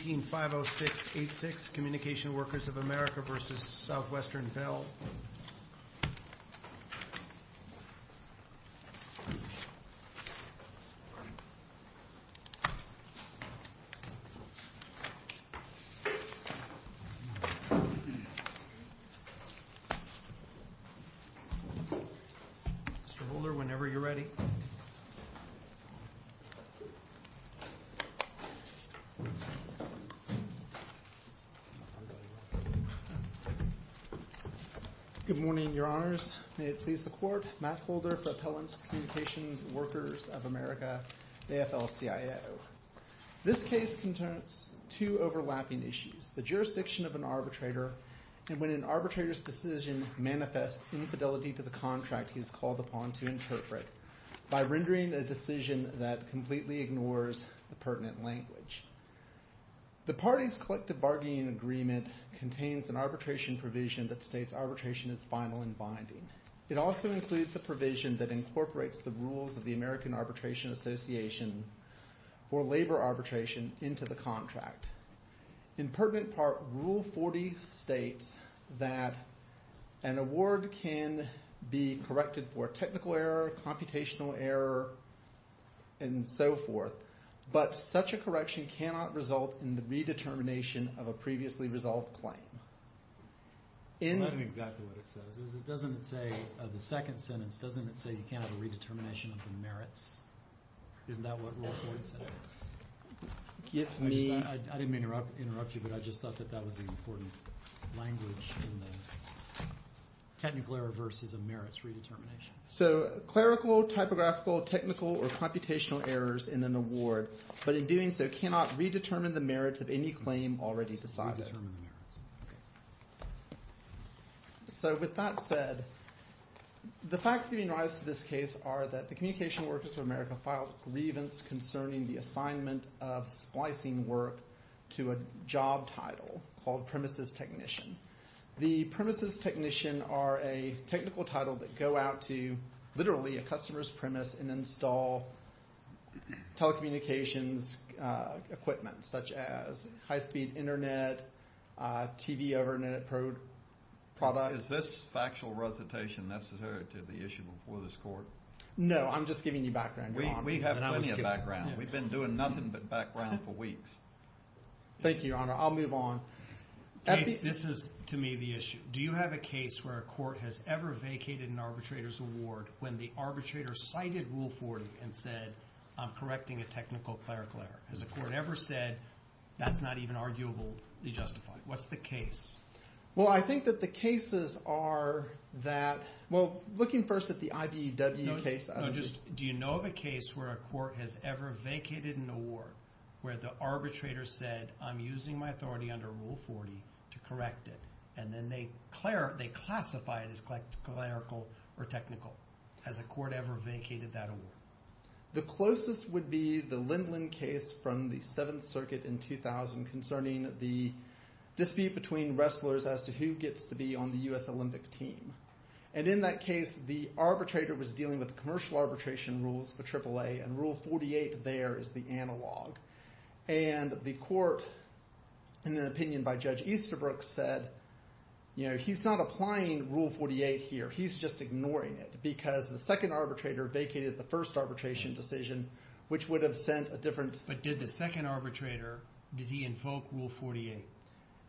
18-506-86 Communication Workers of America v. Southwestern Bell Mr. Holder, whenever you're ready. Good morning, your honors. May it please the court. Matt Holder for Appellants Communications Workers of America, AFL-CIO. This case concerns two overlapping issues. The jurisdiction of an arbitrator and when an arbitrator's decision manifests infidelity to the contract he is called upon to interpret by rendering a decision that completely ignores the pertinent language. The party's collective bargaining agreement contains an arbitration provision that states arbitration is final and binding. It also includes a provision that incorporates the rules of the American Arbitration Association for labor arbitration into the contract. In pertinent part, Rule 40 states that an award can be corrected for technical error, computational error, and so forth, but such a correction cannot result in the redetermination of a previously resolved claim. I'm not exactly what it says. It doesn't say, the second sentence, doesn't it say you can't have a redetermination of the merits? Isn't that what Rule 40 said? I didn't mean to interrupt you, but I just thought that that was an important language in the technical error versus a merits redetermination. So clerical, typographical, technical, or computational errors in an award, but in doing so cannot redetermine the merits of any claim already decided. So with that said, the facts giving rise to this case are that the Communication Workers of America filed a grievance concerning the assignment of splicing work to a job title called premises technician. The premises technician are a technical title that go out to literally a customer's premise and install telecommunications equipment, such as high-speed internet, TV over internet product. Is this factual recitation necessary to the issue before this court? No, I'm just giving you background, Your Honor. We have plenty of background. We've been doing nothing but background for weeks. Thank you, Your Honor. I'll move on. This is, to me, the issue. Do you have a case where a court has ever vacated an arbitrator's award when the arbitrator cited Rule 40 and said, I'm correcting a technical clerical error? Has a court ever said, that's not even arguably justified? What's the case? Well, I think that the cases are that – well, looking first at the IBEW case. Do you know of a case where a court has ever vacated an award where the arbitrator said, I'm using my authority under Rule 40 to correct it? And then they classify it as clerical or technical. Has a court ever vacated that award? The closest would be the Lindland case from the Seventh Circuit in 2000 concerning the dispute between wrestlers as to who gets to be on the U.S. Olympic team. And in that case, the arbitrator was dealing with commercial arbitration rules, the AAA, and Rule 48 there is the analog. And the court, in an opinion by Judge Easterbrook, said he's not applying Rule 48 here. He's just ignoring it because the second arbitrator vacated the first arbitration decision, which would have sent a different – But did the second arbitrator – did he invoke Rule 48?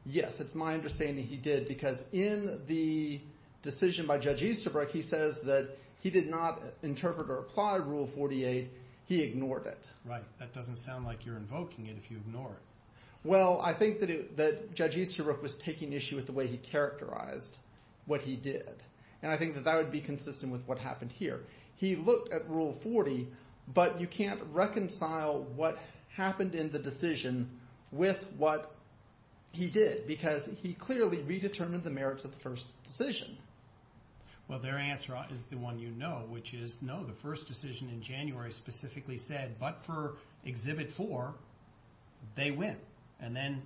Yes, it's my understanding he did because in the decision by Judge Easterbrook, he says that he did not interpret or apply Rule 48. He ignored it. Right. That doesn't sound like you're invoking it if you ignore it. Well, I think that Judge Easterbrook was taking issue with the way he characterized what he did. And I think that that would be consistent with what happened here. He looked at Rule 40, but you can't reconcile what happened in the decision with what he did because he clearly redetermined the merits of the first decision. Well, their answer is the one you know, which is no. The first decision in January specifically said, but for Exhibit 4, they win. And then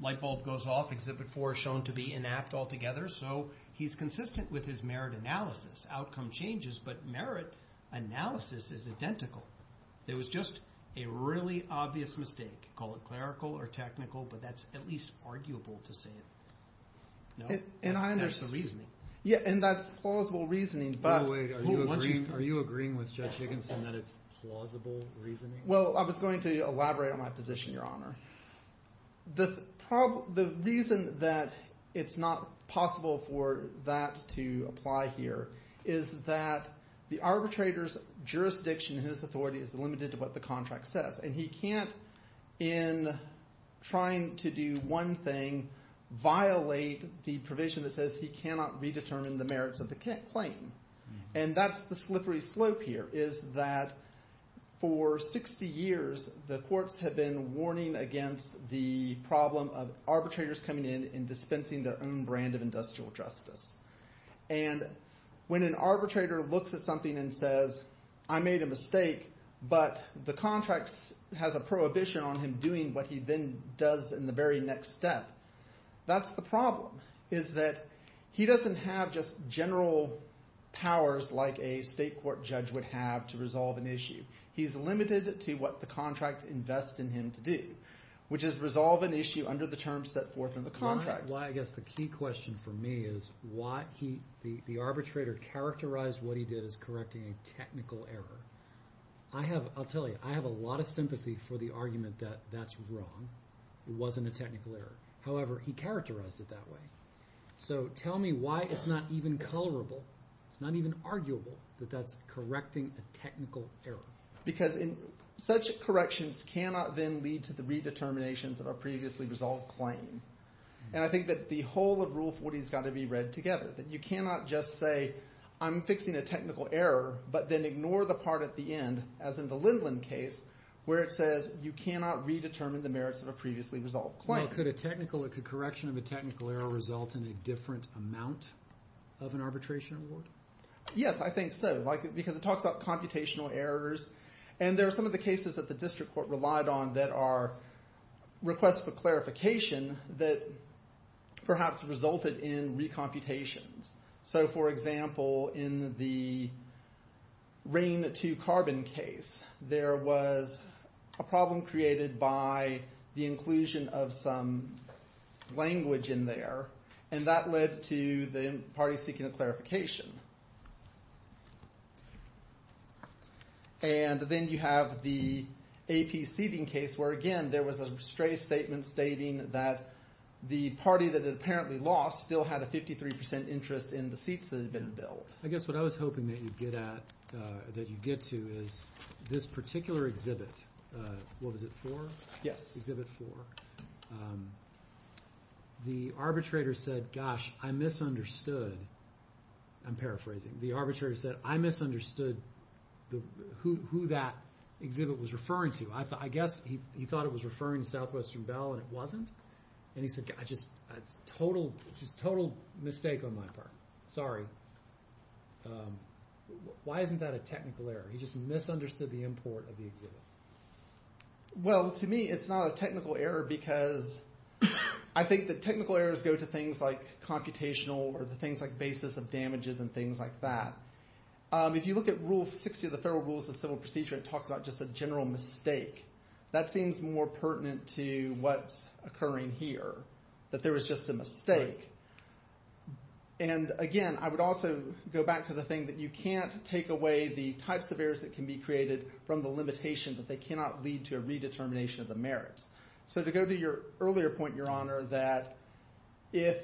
light bulb goes off. Exhibit 4 is shown to be inept altogether. So he's consistent with his merit analysis. Outcome changes, but merit analysis is identical. It was just a really obvious mistake. Call it clerical or technical, but that's at least arguable to say. No? And I understand. There's some reasoning. Yeah, and that's plausible reasoning, but – Wait, are you agreeing with Judge Higginson that it's plausible reasoning? Well, I was going to elaborate on my position, Your Honor. The reason that it's not possible for that to apply here is that the arbitrator's jurisdiction in his authority is limited to what the contract says. And he can't, in trying to do one thing, violate the provision that says he cannot redetermine the merits of the claim. And that's the slippery slope here is that for 60 years the courts have been warning against the problem of arbitrators coming in and dispensing their own brand of industrial justice. And when an arbitrator looks at something and says, I made a mistake, but the contract has a prohibition on him doing what he then does in the very next step, that's the problem. He doesn't have just general powers like a state court judge would have to resolve an issue. He's limited to what the contract invests in him to do, which is resolve an issue under the terms set forth in the contract. Well, I guess the key question for me is why he – the arbitrator characterized what he did as correcting a technical error. I have – I'll tell you. I have a lot of sympathy for the argument that that's wrong. It wasn't a technical error. However, he characterized it that way. So tell me why it's not even colorable, it's not even arguable that that's correcting a technical error. Because such corrections cannot then lead to the redeterminations of a previously resolved claim. And I think that the whole of Rule 40 has got to be read together, that you cannot just say I'm fixing a technical error but then ignore the part at the end, as in the Lindland case, where it says you cannot redetermine the merits of a previously resolved claim. Well, could a technical – could correction of a technical error result in a different amount of an arbitration award? Yes, I think so, because it talks about computational errors. And there are some of the cases that the district court relied on that are requests for clarification that perhaps resulted in recomputations. So, for example, in the rain to carbon case, there was a problem created by the inclusion of some language in there, and that led to the party seeking a clarification. And then you have the AP seating case where, again, there was a stray statement stating that the party that had apparently lost still had a 53% interest in the seats that had been built. I guess what I was hoping that you'd get at – that you'd get to is this particular exhibit. What was it for? Yes. Exhibit four. The arbitrator said, gosh, I misunderstood. I'm paraphrasing. The arbitrator said, I misunderstood who that exhibit was referring to. I guess he thought it was referring to Southwestern Bell, and it wasn't. And he said, just a total mistake on my part. Sorry. Why isn't that a technical error? He just misunderstood the import of the exhibit. Well, to me, it's not a technical error because I think that technical errors go to things like computational or things like basis of damages and things like that. If you look at Rule 60 of the Federal Rules of Civil Procedure, it talks about just a general mistake. That seems more pertinent to what's occurring here, that there was just a mistake. And, again, I would also go back to the thing that you can't take away the types of errors that can be created from the limitation that they cannot lead to a redetermination of the merits. So to go to your earlier point, Your Honor, that if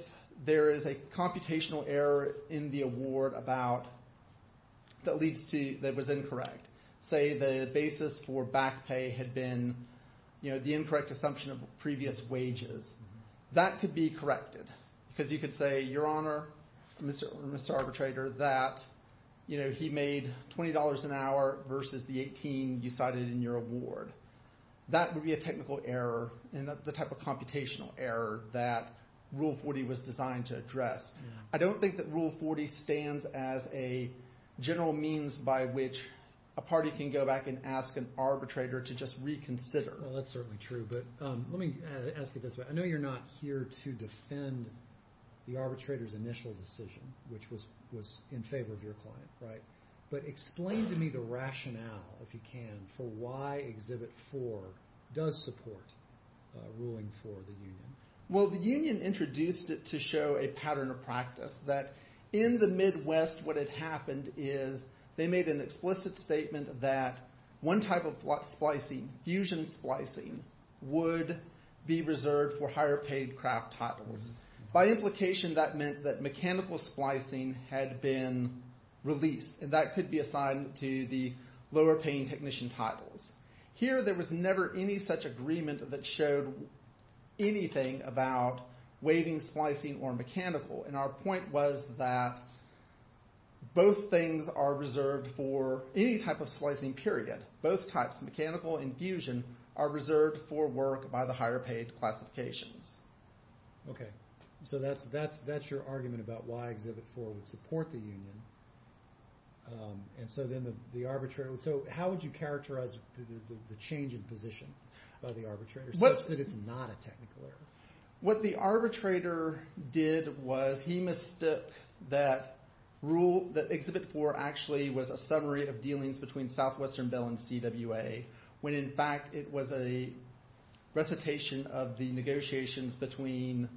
there is a computational error in the award about – that leads to – that was incorrect, say the basis for back pay had been the incorrect assumption of previous wages. That could be corrected because you could say, Your Honor, Mr. Arbitrator, that he made $20 an hour versus the $18 you cited in your award. That would be a technical error and the type of computational error that Rule 40 was designed to address. I don't think that Rule 40 stands as a general means by which a party can go back and ask an arbitrator to just reconsider. Well, that's certainly true, but let me ask it this way. I know you're not here to defend the arbitrator's initial decision, which was in favor of your client, right? But explain to me the rationale, if you can, for why Exhibit 4 does support ruling for the union. Well, the union introduced it to show a pattern of practice that in the Midwest what had happened is they made an explicit statement that one type of splicing, fusion splicing, would be reserved for higher paid craft titles. By implication, that meant that mechanical splicing had been released, and that could be assigned to the lower paying technician titles. Here, there was never any such agreement that showed anything about waiving splicing or mechanical, and our point was that both things are reserved for any type of splicing, period. Both types, mechanical and fusion, are reserved for work by the higher paid classifications. Okay, so that's your argument about why Exhibit 4 would support the union. How would you characterize the change in position of the arbitrator, such that it's not a technical error? What the arbitrator did was he mistook that Exhibit 4 actually was a summary of dealings between Southwestern Bell and CWA, when in fact it was a recitation of the negotiations between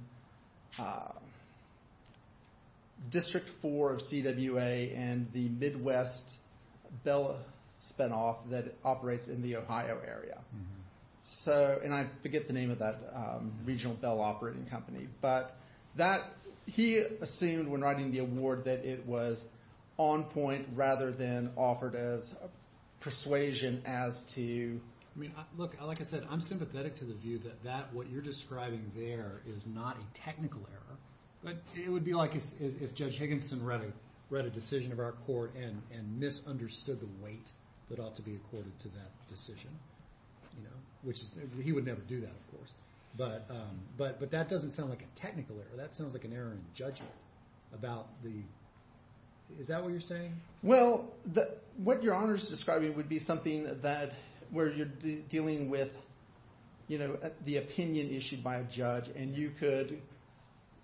District 4 of CWA and the Midwest Bell spinoff that operates in the Ohio area. And I forget the name of that regional bell operating company, but he assumed when writing the award that it was on point rather than offered as persuasion as to... He would never do that, of course, but that doesn't sound like a technical error. That sounds like an error in judgment about the... Is that what you're saying? Well, what your honor's describing would be something that, where you're dealing with the opinion issued by a judge, and you could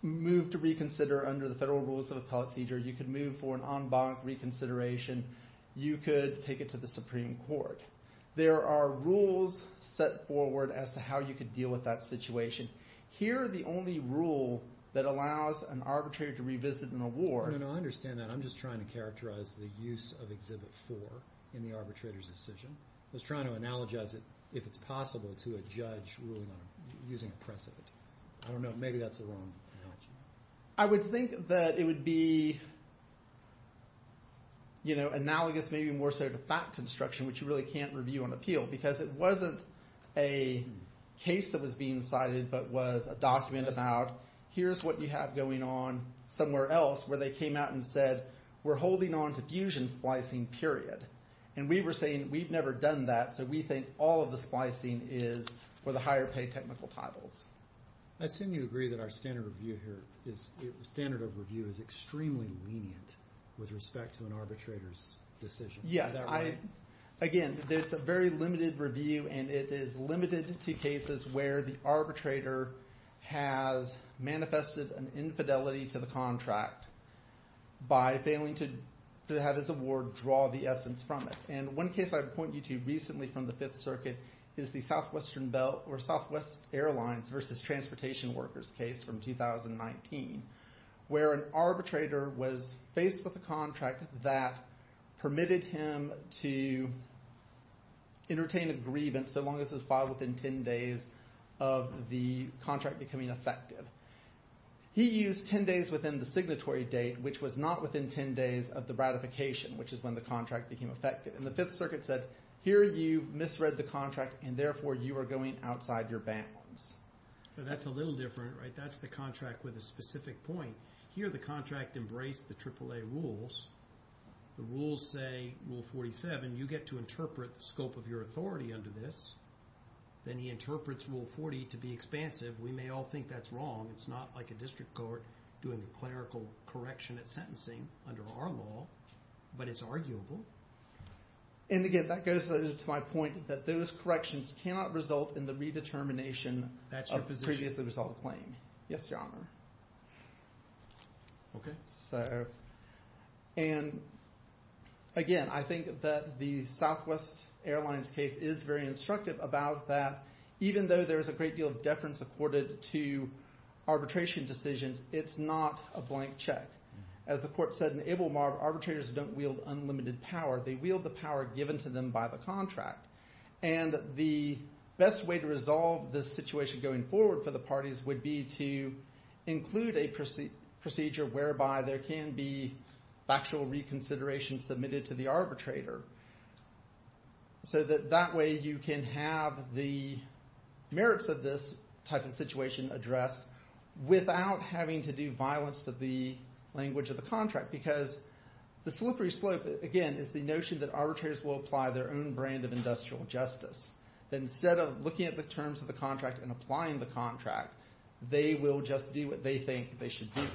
move to reconsider under the federal rules of appellate seizure. You could move for an en banc reconsideration. You could take it to the Supreme Court. There are rules set forward as to how you could deal with that situation. Here, the only rule that allows an arbitrator to revisit an award... No, no, no, I understand that. I'm just trying to characterize the use of Exhibit 4 in the arbitrator's decision. I was trying to analogize it, if it's possible, to a judge using a precedent. I don't know. Maybe that's the wrong analogy. I would think that it would be analogous, maybe more so, to fact construction, which you really can't review on appeal, because it wasn't a case that was being cited, but was a document about, here's what you have going on somewhere else, where they came out and said, we're holding on to fusion splicing, period. And we were saying, we've never done that, so we think all of the splicing is for the higher pay technical titles. I assume you agree that our standard of review here is extremely lenient with respect to an arbitrator's decision. Yes. Again, it's a very limited review, and it is limited to cases where the arbitrator has manifested an infidelity to the contract by failing to have his award draw the essence from it. And one case I would point you to recently from the Fifth Circuit is the Southwest Airlines versus Transportation Workers case from 2019, where an arbitrator was faced with a contract that permitted him to entertain a grievance, so long as it was filed within 10 days of the contract becoming effective. He used 10 days within the signatory date, which was not within 10 days of the ratification, which is when the contract became effective. And the Fifth Circuit said, here you misread the contract, and therefore you are going outside your bounds. That's a little different, right? That's the contract with a specific point. Here the contract embraced the AAA rules. The rules say, Rule 47, you get to interpret the scope of your authority under this. Then he interprets Rule 40 to be expansive. We may all think that's wrong. It's not like a district court doing a clerical correction at sentencing under our law, but it's arguable. And again, that goes to my point that those corrections cannot result in the redetermination of previously resolved claim. Yes, Your Honor. Okay. And again, I think that the Southwest Airlines case is very instructive about that. Even though there is a great deal of deference accorded to arbitration decisions, it's not a blank check. As the court said in Ablemar, arbitrators don't wield unlimited power. They wield the power given to them by the contract. And the best way to resolve this situation going forward for the parties would be to include a procedure whereby there can be factual reconsideration submitted to the arbitrator. So that that way you can have the merits of this type of situation addressed without having to do violence to the language of the contract. Because the slippery slope, again, is the notion that arbitrators will apply their own brand of industrial justice. That instead of looking at the terms of the contract and applying the contract, they will just do what they think they should do.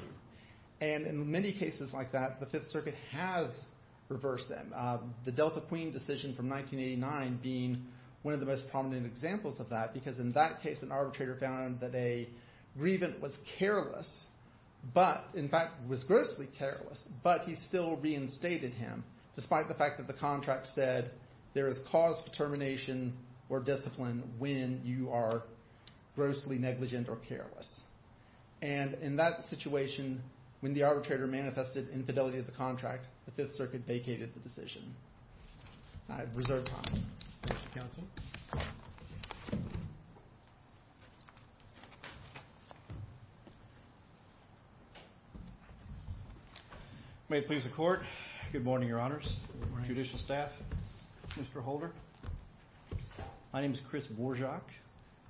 And in many cases like that, the Fifth Circuit has reversed them, the Delta Queen decision from 1989 being one of the most prominent examples of that. Because in that case, an arbitrator found that a grievant was careless, but in fact was grossly careless. But he still reinstated him, despite the fact that the contract said there is cause for termination or discipline when you are grossly negligent or careless. And in that situation, when the arbitrator manifested infidelity of the contract, the Fifth Circuit vacated the decision. All right, reserve time. Mr. Counsel. May it please the court. Good morning, your honors. Good morning. Judicial staff. Mr. Holder. My name is Chris Bourgeois,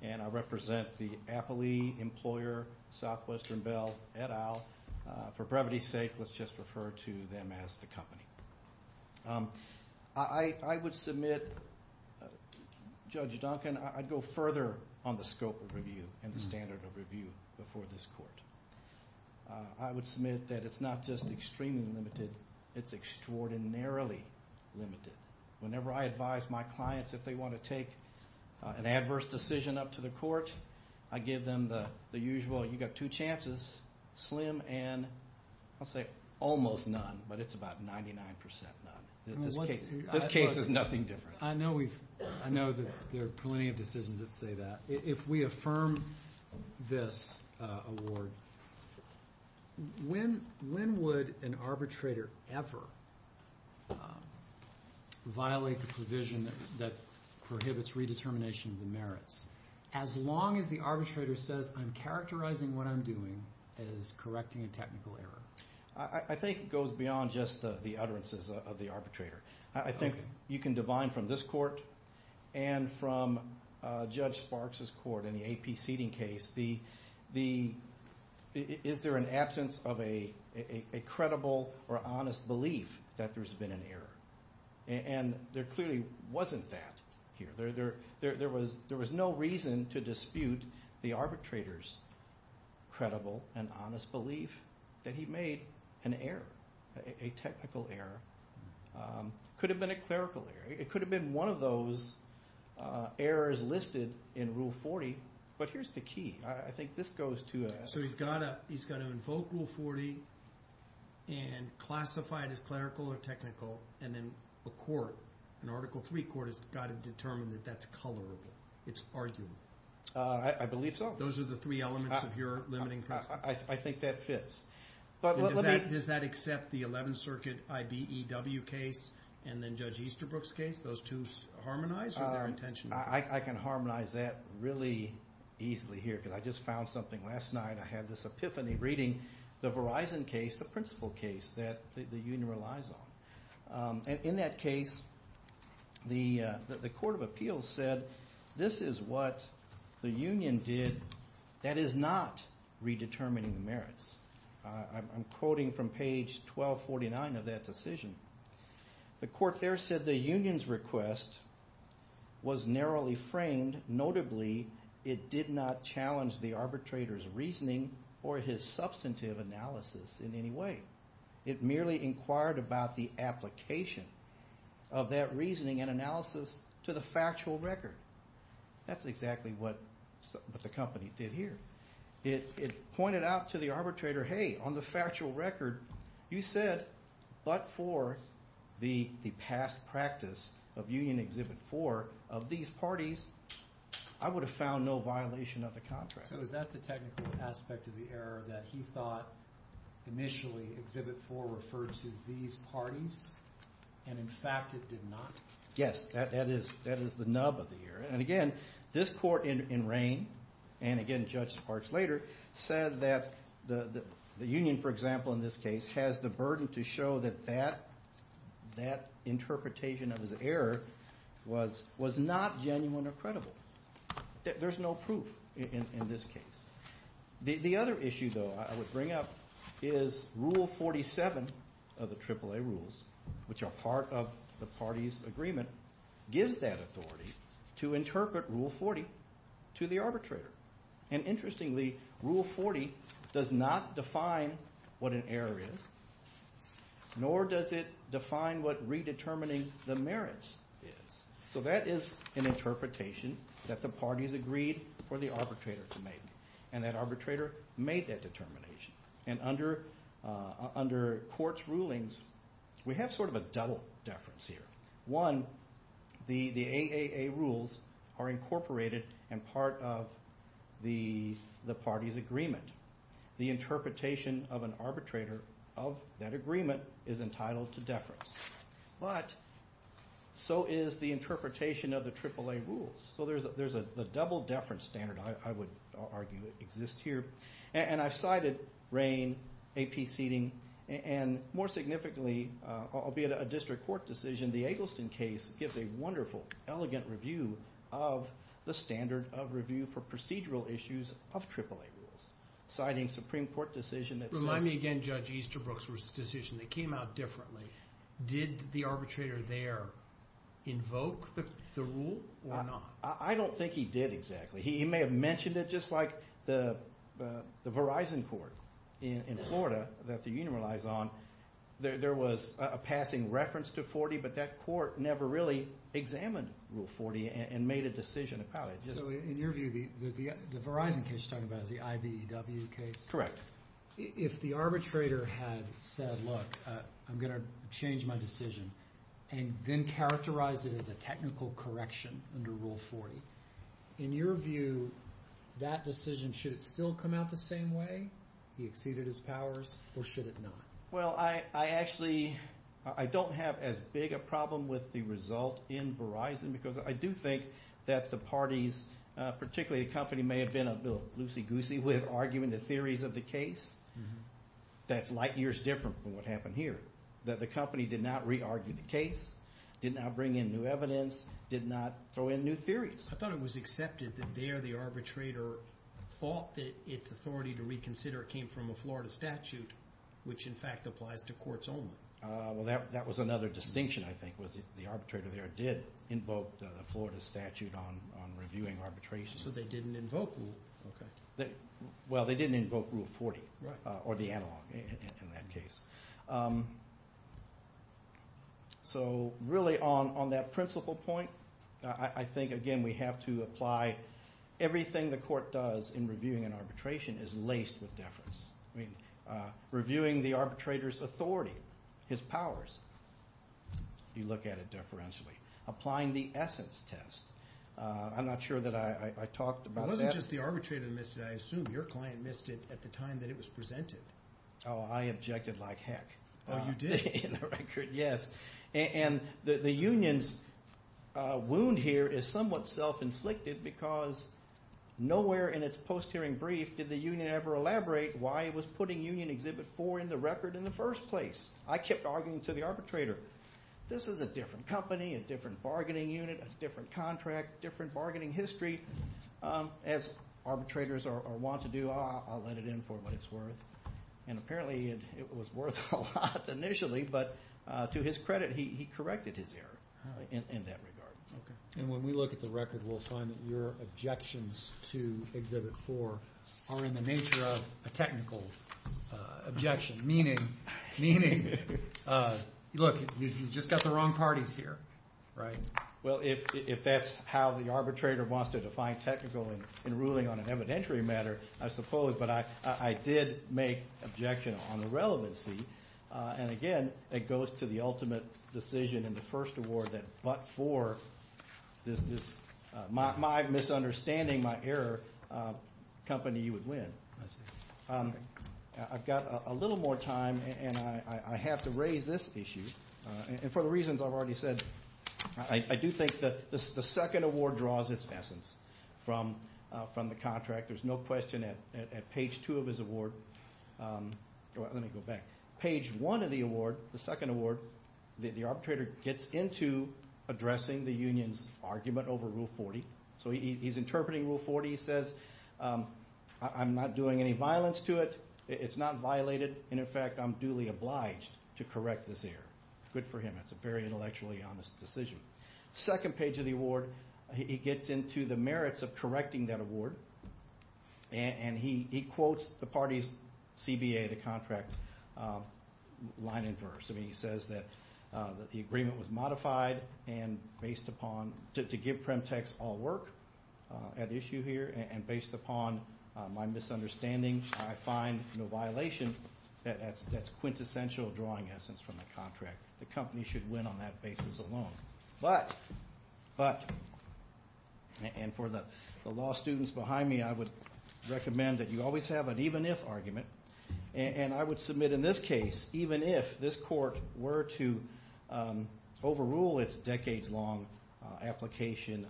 and I represent the Appley Employer Southwestern Bell et al. For brevity's sake, let's just refer to them as the company. I would submit, Judge Duncan, I'd go further on the scope of review and the standard of review before this court. I would submit that it's not just extremely limited, it's extraordinarily limited. Whenever I advise my clients if they want to take an adverse decision up to the court, I give them the usual, you've got two chances, slim and I'll say almost none, but it's about 99% none. This case is nothing different. I know there are plenty of decisions that say that. If we affirm this award, when would an arbitrator ever violate the provision that prohibits redetermination of the merits, as long as the arbitrator says I'm characterizing what I'm doing as correcting a technical error? I think it goes beyond just the utterances of the arbitrator. I think you can divine from this court and from Judge Sparks' court in the AP seating case, is there an absence of a credible or honest belief that there's been an error? And there clearly wasn't that here. There was no reason to dispute the arbitrator's credible and honest belief that he made an error, a technical error. It could have been a clerical error. It could have been one of those errors listed in Rule 40, but here's the key. I think this goes to a… It's arguable. I believe so. Those are the three elements of your limiting principle. I think that fits. Does that accept the 11th Circuit IBEW case and then Judge Easterbrook's case? Those two harmonize? I can harmonize that really easily here because I just found something last night. I had this epiphany reading the Verizon case, the principal case that the union relies on. In that case, the Court of Appeals said this is what the union did. That is not redetermining the merits. I'm quoting from page 1249 of that decision. The court there said the union's request was narrowly framed. Notably, it did not challenge the arbitrator's reasoning or his substantive analysis in any way. It merely inquired about the application of that reasoning and analysis to the factual record. That's exactly what the company did here. It pointed out to the arbitrator, hey, on the factual record you said, but for the past practice of Union Exhibit 4 of these parties, I would have found no violation of the contract. So is that the technical aspect of the error that he thought initially Exhibit 4 referred to these parties, and in fact it did not? Yes. That is the nub of the error. Again, this court in rain, and again Judge Sparks later, said that the union, for example, in this case, has the burden to show that that interpretation of his error was not genuine or credible. There's no proof in this case. The other issue, though, I would bring up is Rule 47 of the AAA rules, which are part of the parties' agreement, gives that authority to interpret Rule 40 to the arbitrator. And interestingly, Rule 40 does not define what an error is, nor does it define what redetermining the merits is. So that is an interpretation that the parties agreed for the arbitrator to make, and that arbitrator made that determination. And under court's rulings, we have sort of a double deference here. One, the AAA rules are incorporated and part of the parties' agreement. The interpretation of an arbitrator of that agreement is entitled to deference. But so is the interpretation of the AAA rules. So there's a double deference standard, I would argue, that exists here. And I've cited rain, AP seating, and more significantly, albeit a district court decision, the Eggleston case gives a wonderful, elegant review of the standard of review for procedural issues of AAA rules. Citing a Supreme Court decision that says— Did the arbitrator there invoke the rule or not? I don't think he did exactly. He may have mentioned it just like the Verizon court in Florida that the union relies on. There was a passing reference to 40, but that court never really examined Rule 40 and made a decision about it. So in your view, the Verizon case you're talking about is the IBEW case? Correct. If the arbitrator had said, look, I'm going to change my decision and then characterize it as a technical correction under Rule 40, in your view, that decision, should it still come out the same way? He exceeded his powers, or should it not? Well, I actually don't have as big a problem with the result in Verizon We may have been a little loosey-goosey with arguing the theories of the case. That's light years different from what happened here. The company did not re-argue the case, did not bring in new evidence, did not throw in new theories. I thought it was accepted that there the arbitrator thought that its authority to reconsider came from a Florida statute, which in fact applies to courts only. Well, that was another distinction, I think, was the arbitrator there did invoke the Florida statute on reviewing arbitrations. So they didn't invoke Rule 40. Well, they didn't invoke Rule 40, or the analog in that case. So, really, on that principle point, I think, again, we have to apply everything the court does in reviewing an arbitration is laced with deference. Reviewing the arbitrator's authority, his powers, you look at it deferentially. Applying the essence test. I'm not sure that I talked about that. It wasn't just the arbitrator that missed it. I assume your client missed it at the time that it was presented. Oh, I objected like heck. Oh, you did? In the record, yes. And the union's wound here is somewhat self-inflicted because nowhere in its post-hearing brief did the union ever elaborate why it was putting Union Exhibit 4 in the record in the first place. I kept arguing to the arbitrator, this is a different company, a different bargaining unit, a different contract, different bargaining history. As arbitrators want to do, I'll let it in for what it's worth. And apparently it was worth a lot initially, but to his credit, he corrected his error in that regard. Okay. And when we look at the record, we'll find that your objections to Exhibit 4 are in the nature of a technical objection. Meaning, look, you've just got the wrong parties here. Right. Well, if that's how the arbitrator wants to define technical in ruling on an evidentiary matter, I suppose. But I did make objection on the relevancy. And again, it goes to the ultimate decision in the first award that but for my misunderstanding, my error, the company would win. I see. I've got a little more time, and I have to raise this issue. And for the reasons I've already said, I do think that the second award draws its essence from the contract. There's no question at page 2 of his award. Let me go back. Page 1 of the award, the second award, the arbitrator gets into addressing the union's argument over Rule 40. So he's interpreting Rule 40. He says, I'm not doing any violence to it. It's not violated. And, in fact, I'm duly obliged to correct this error. Good for him. That's a very intellectually honest decision. Second page of the award, he gets into the merits of correcting that award. And he quotes the party's CBA, the contract, line in verse. I mean, he says that the agreement was modified and based upon to give Premtex all work at issue here and based upon my misunderstandings, I find no violation. That's quintessential drawing essence from the contract. The company should win on that basis alone. But, and for the law students behind me, I would recommend that you always have an even-if argument. And I would submit in this case, even if this court were to overrule its decades-long application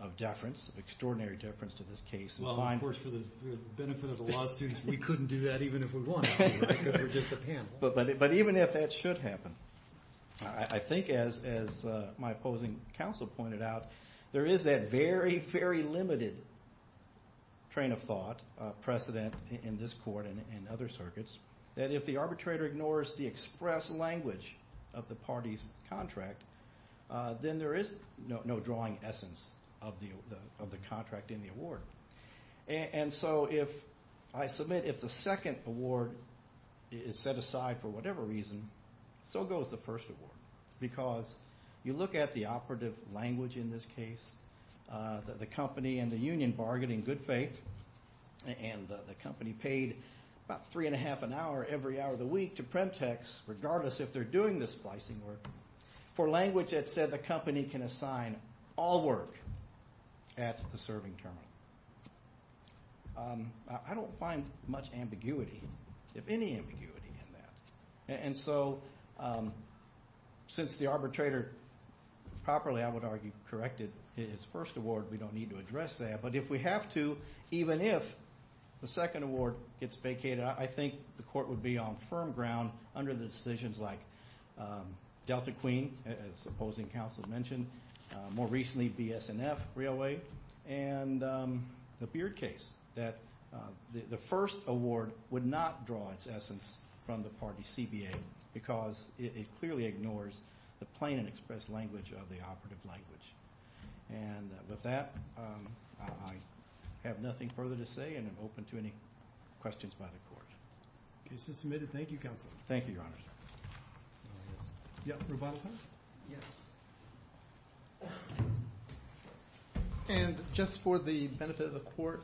of deference, of extraordinary deference to this case. Well, of course, for the benefit of the law students, we couldn't do that even if we won because we're just a panel. But even if that should happen, I think, as my opposing counsel pointed out, there is that very, very limited train of thought precedent in this court and other circuits that if the arbitrator ignores the express language of the party's contract, then there is no drawing essence of the contract in the award. And so if I submit if the second award is set aside for whatever reason, so goes the first award. Because you look at the operative language in this case, the company and the union bargaining good faith, and the company paid about three and a half an hour every hour of the week to Premtex, regardless if they're doing the splicing work, for language that said the company can assign all work at the serving terminal. I don't find much ambiguity, if any ambiguity in that. And so since the arbitrator properly, I would argue, corrected his first award, we don't need to address that. But if we have to, even if the second award gets vacated, I think the court would be on firm ground under the decisions like Delta Queen, as opposing counsel mentioned, more recently BS&F Railway, and the Beard case that the first award would not draw its essence from the party CBA because it clearly ignores the plain and express language of the operative language. And with that, I have nothing further to say, and I'm open to any questions by the court. The case is submitted. Thank you, counsel. Thank you, Your Honor. Roboto? Yes. And just for the benefit of the court,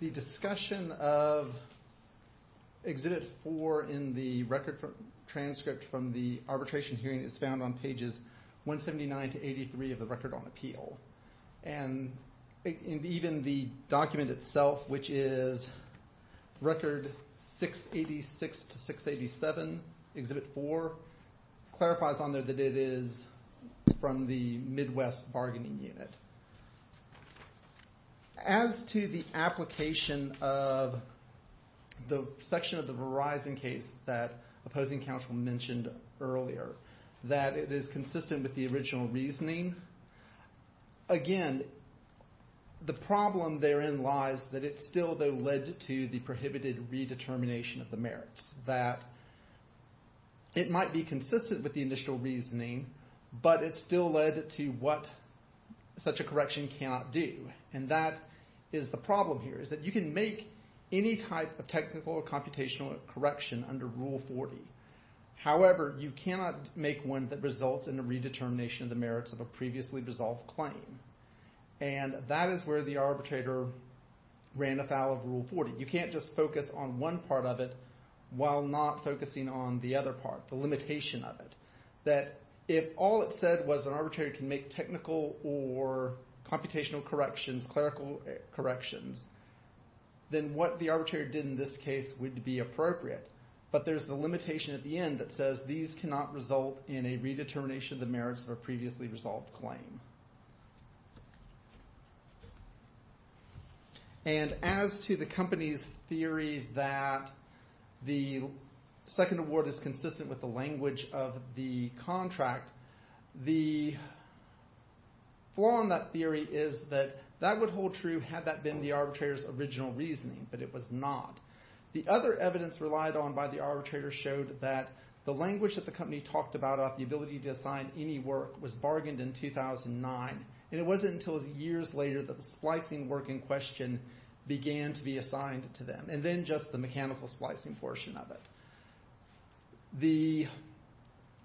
the discussion of Exhibit 4 in the record transcript from the arbitration hearing is found on pages 179 to 83 of the record on appeal. And even the document itself, which is record 686 to 687, Exhibit 4, clarifies on there that it is from the Midwest Bargaining Unit. As to the application of the section of the Verizon case that opposing counsel mentioned earlier, that it is consistent with the original reasoning, again, the problem therein lies that it still, though, led to the prohibited redetermination of the merits, that it might be consistent with the initial reasoning, but it still led to what such a correction cannot do. And that is the problem here, is that you can make any type of technical or computational correction under Rule 40. However, you cannot make one that results in a redetermination of the merits of a previously resolved claim. And that is where the arbitrator ran afoul of Rule 40. You can't just focus on one part of it while not focusing on the other part, the limitation of it. That if all it said was an arbitrator can make technical or computational corrections, clerical corrections, then what the arbitrator did in this case would be appropriate. But there's the limitation at the end that says these cannot result in a redetermination of the merits of a previously resolved claim. And as to the company's theory that the second award is consistent with the language of the contract, the flaw in that theory is that that would hold true had that been the arbitrator's original reasoning, but it was not. The other evidence relied on by the arbitrator showed that the language that the company talked about about the ability to assign any work was bargained in 2009, and it wasn't until years later that the splicing work in question began to be assigned to them, and then just the mechanical splicing portion of it. The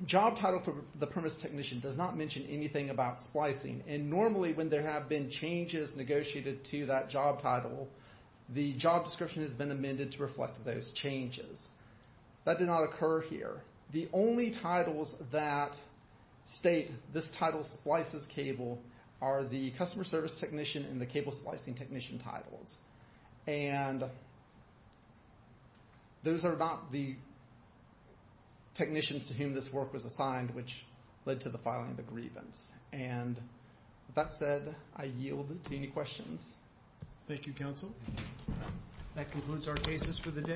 job title for the premise technician does not mention anything about splicing, and normally when there have been changes negotiated to that job title, the job description has been amended to reflect those changes. That did not occur here. The only titles that state this title splices cable are the customer service technician and the cable splicing technician titles. And those are not the technicians to whom this work was assigned which led to the filing of the grievance. And with that said, I yield to any questions. Thank you, counsel. That concludes our cases for the day.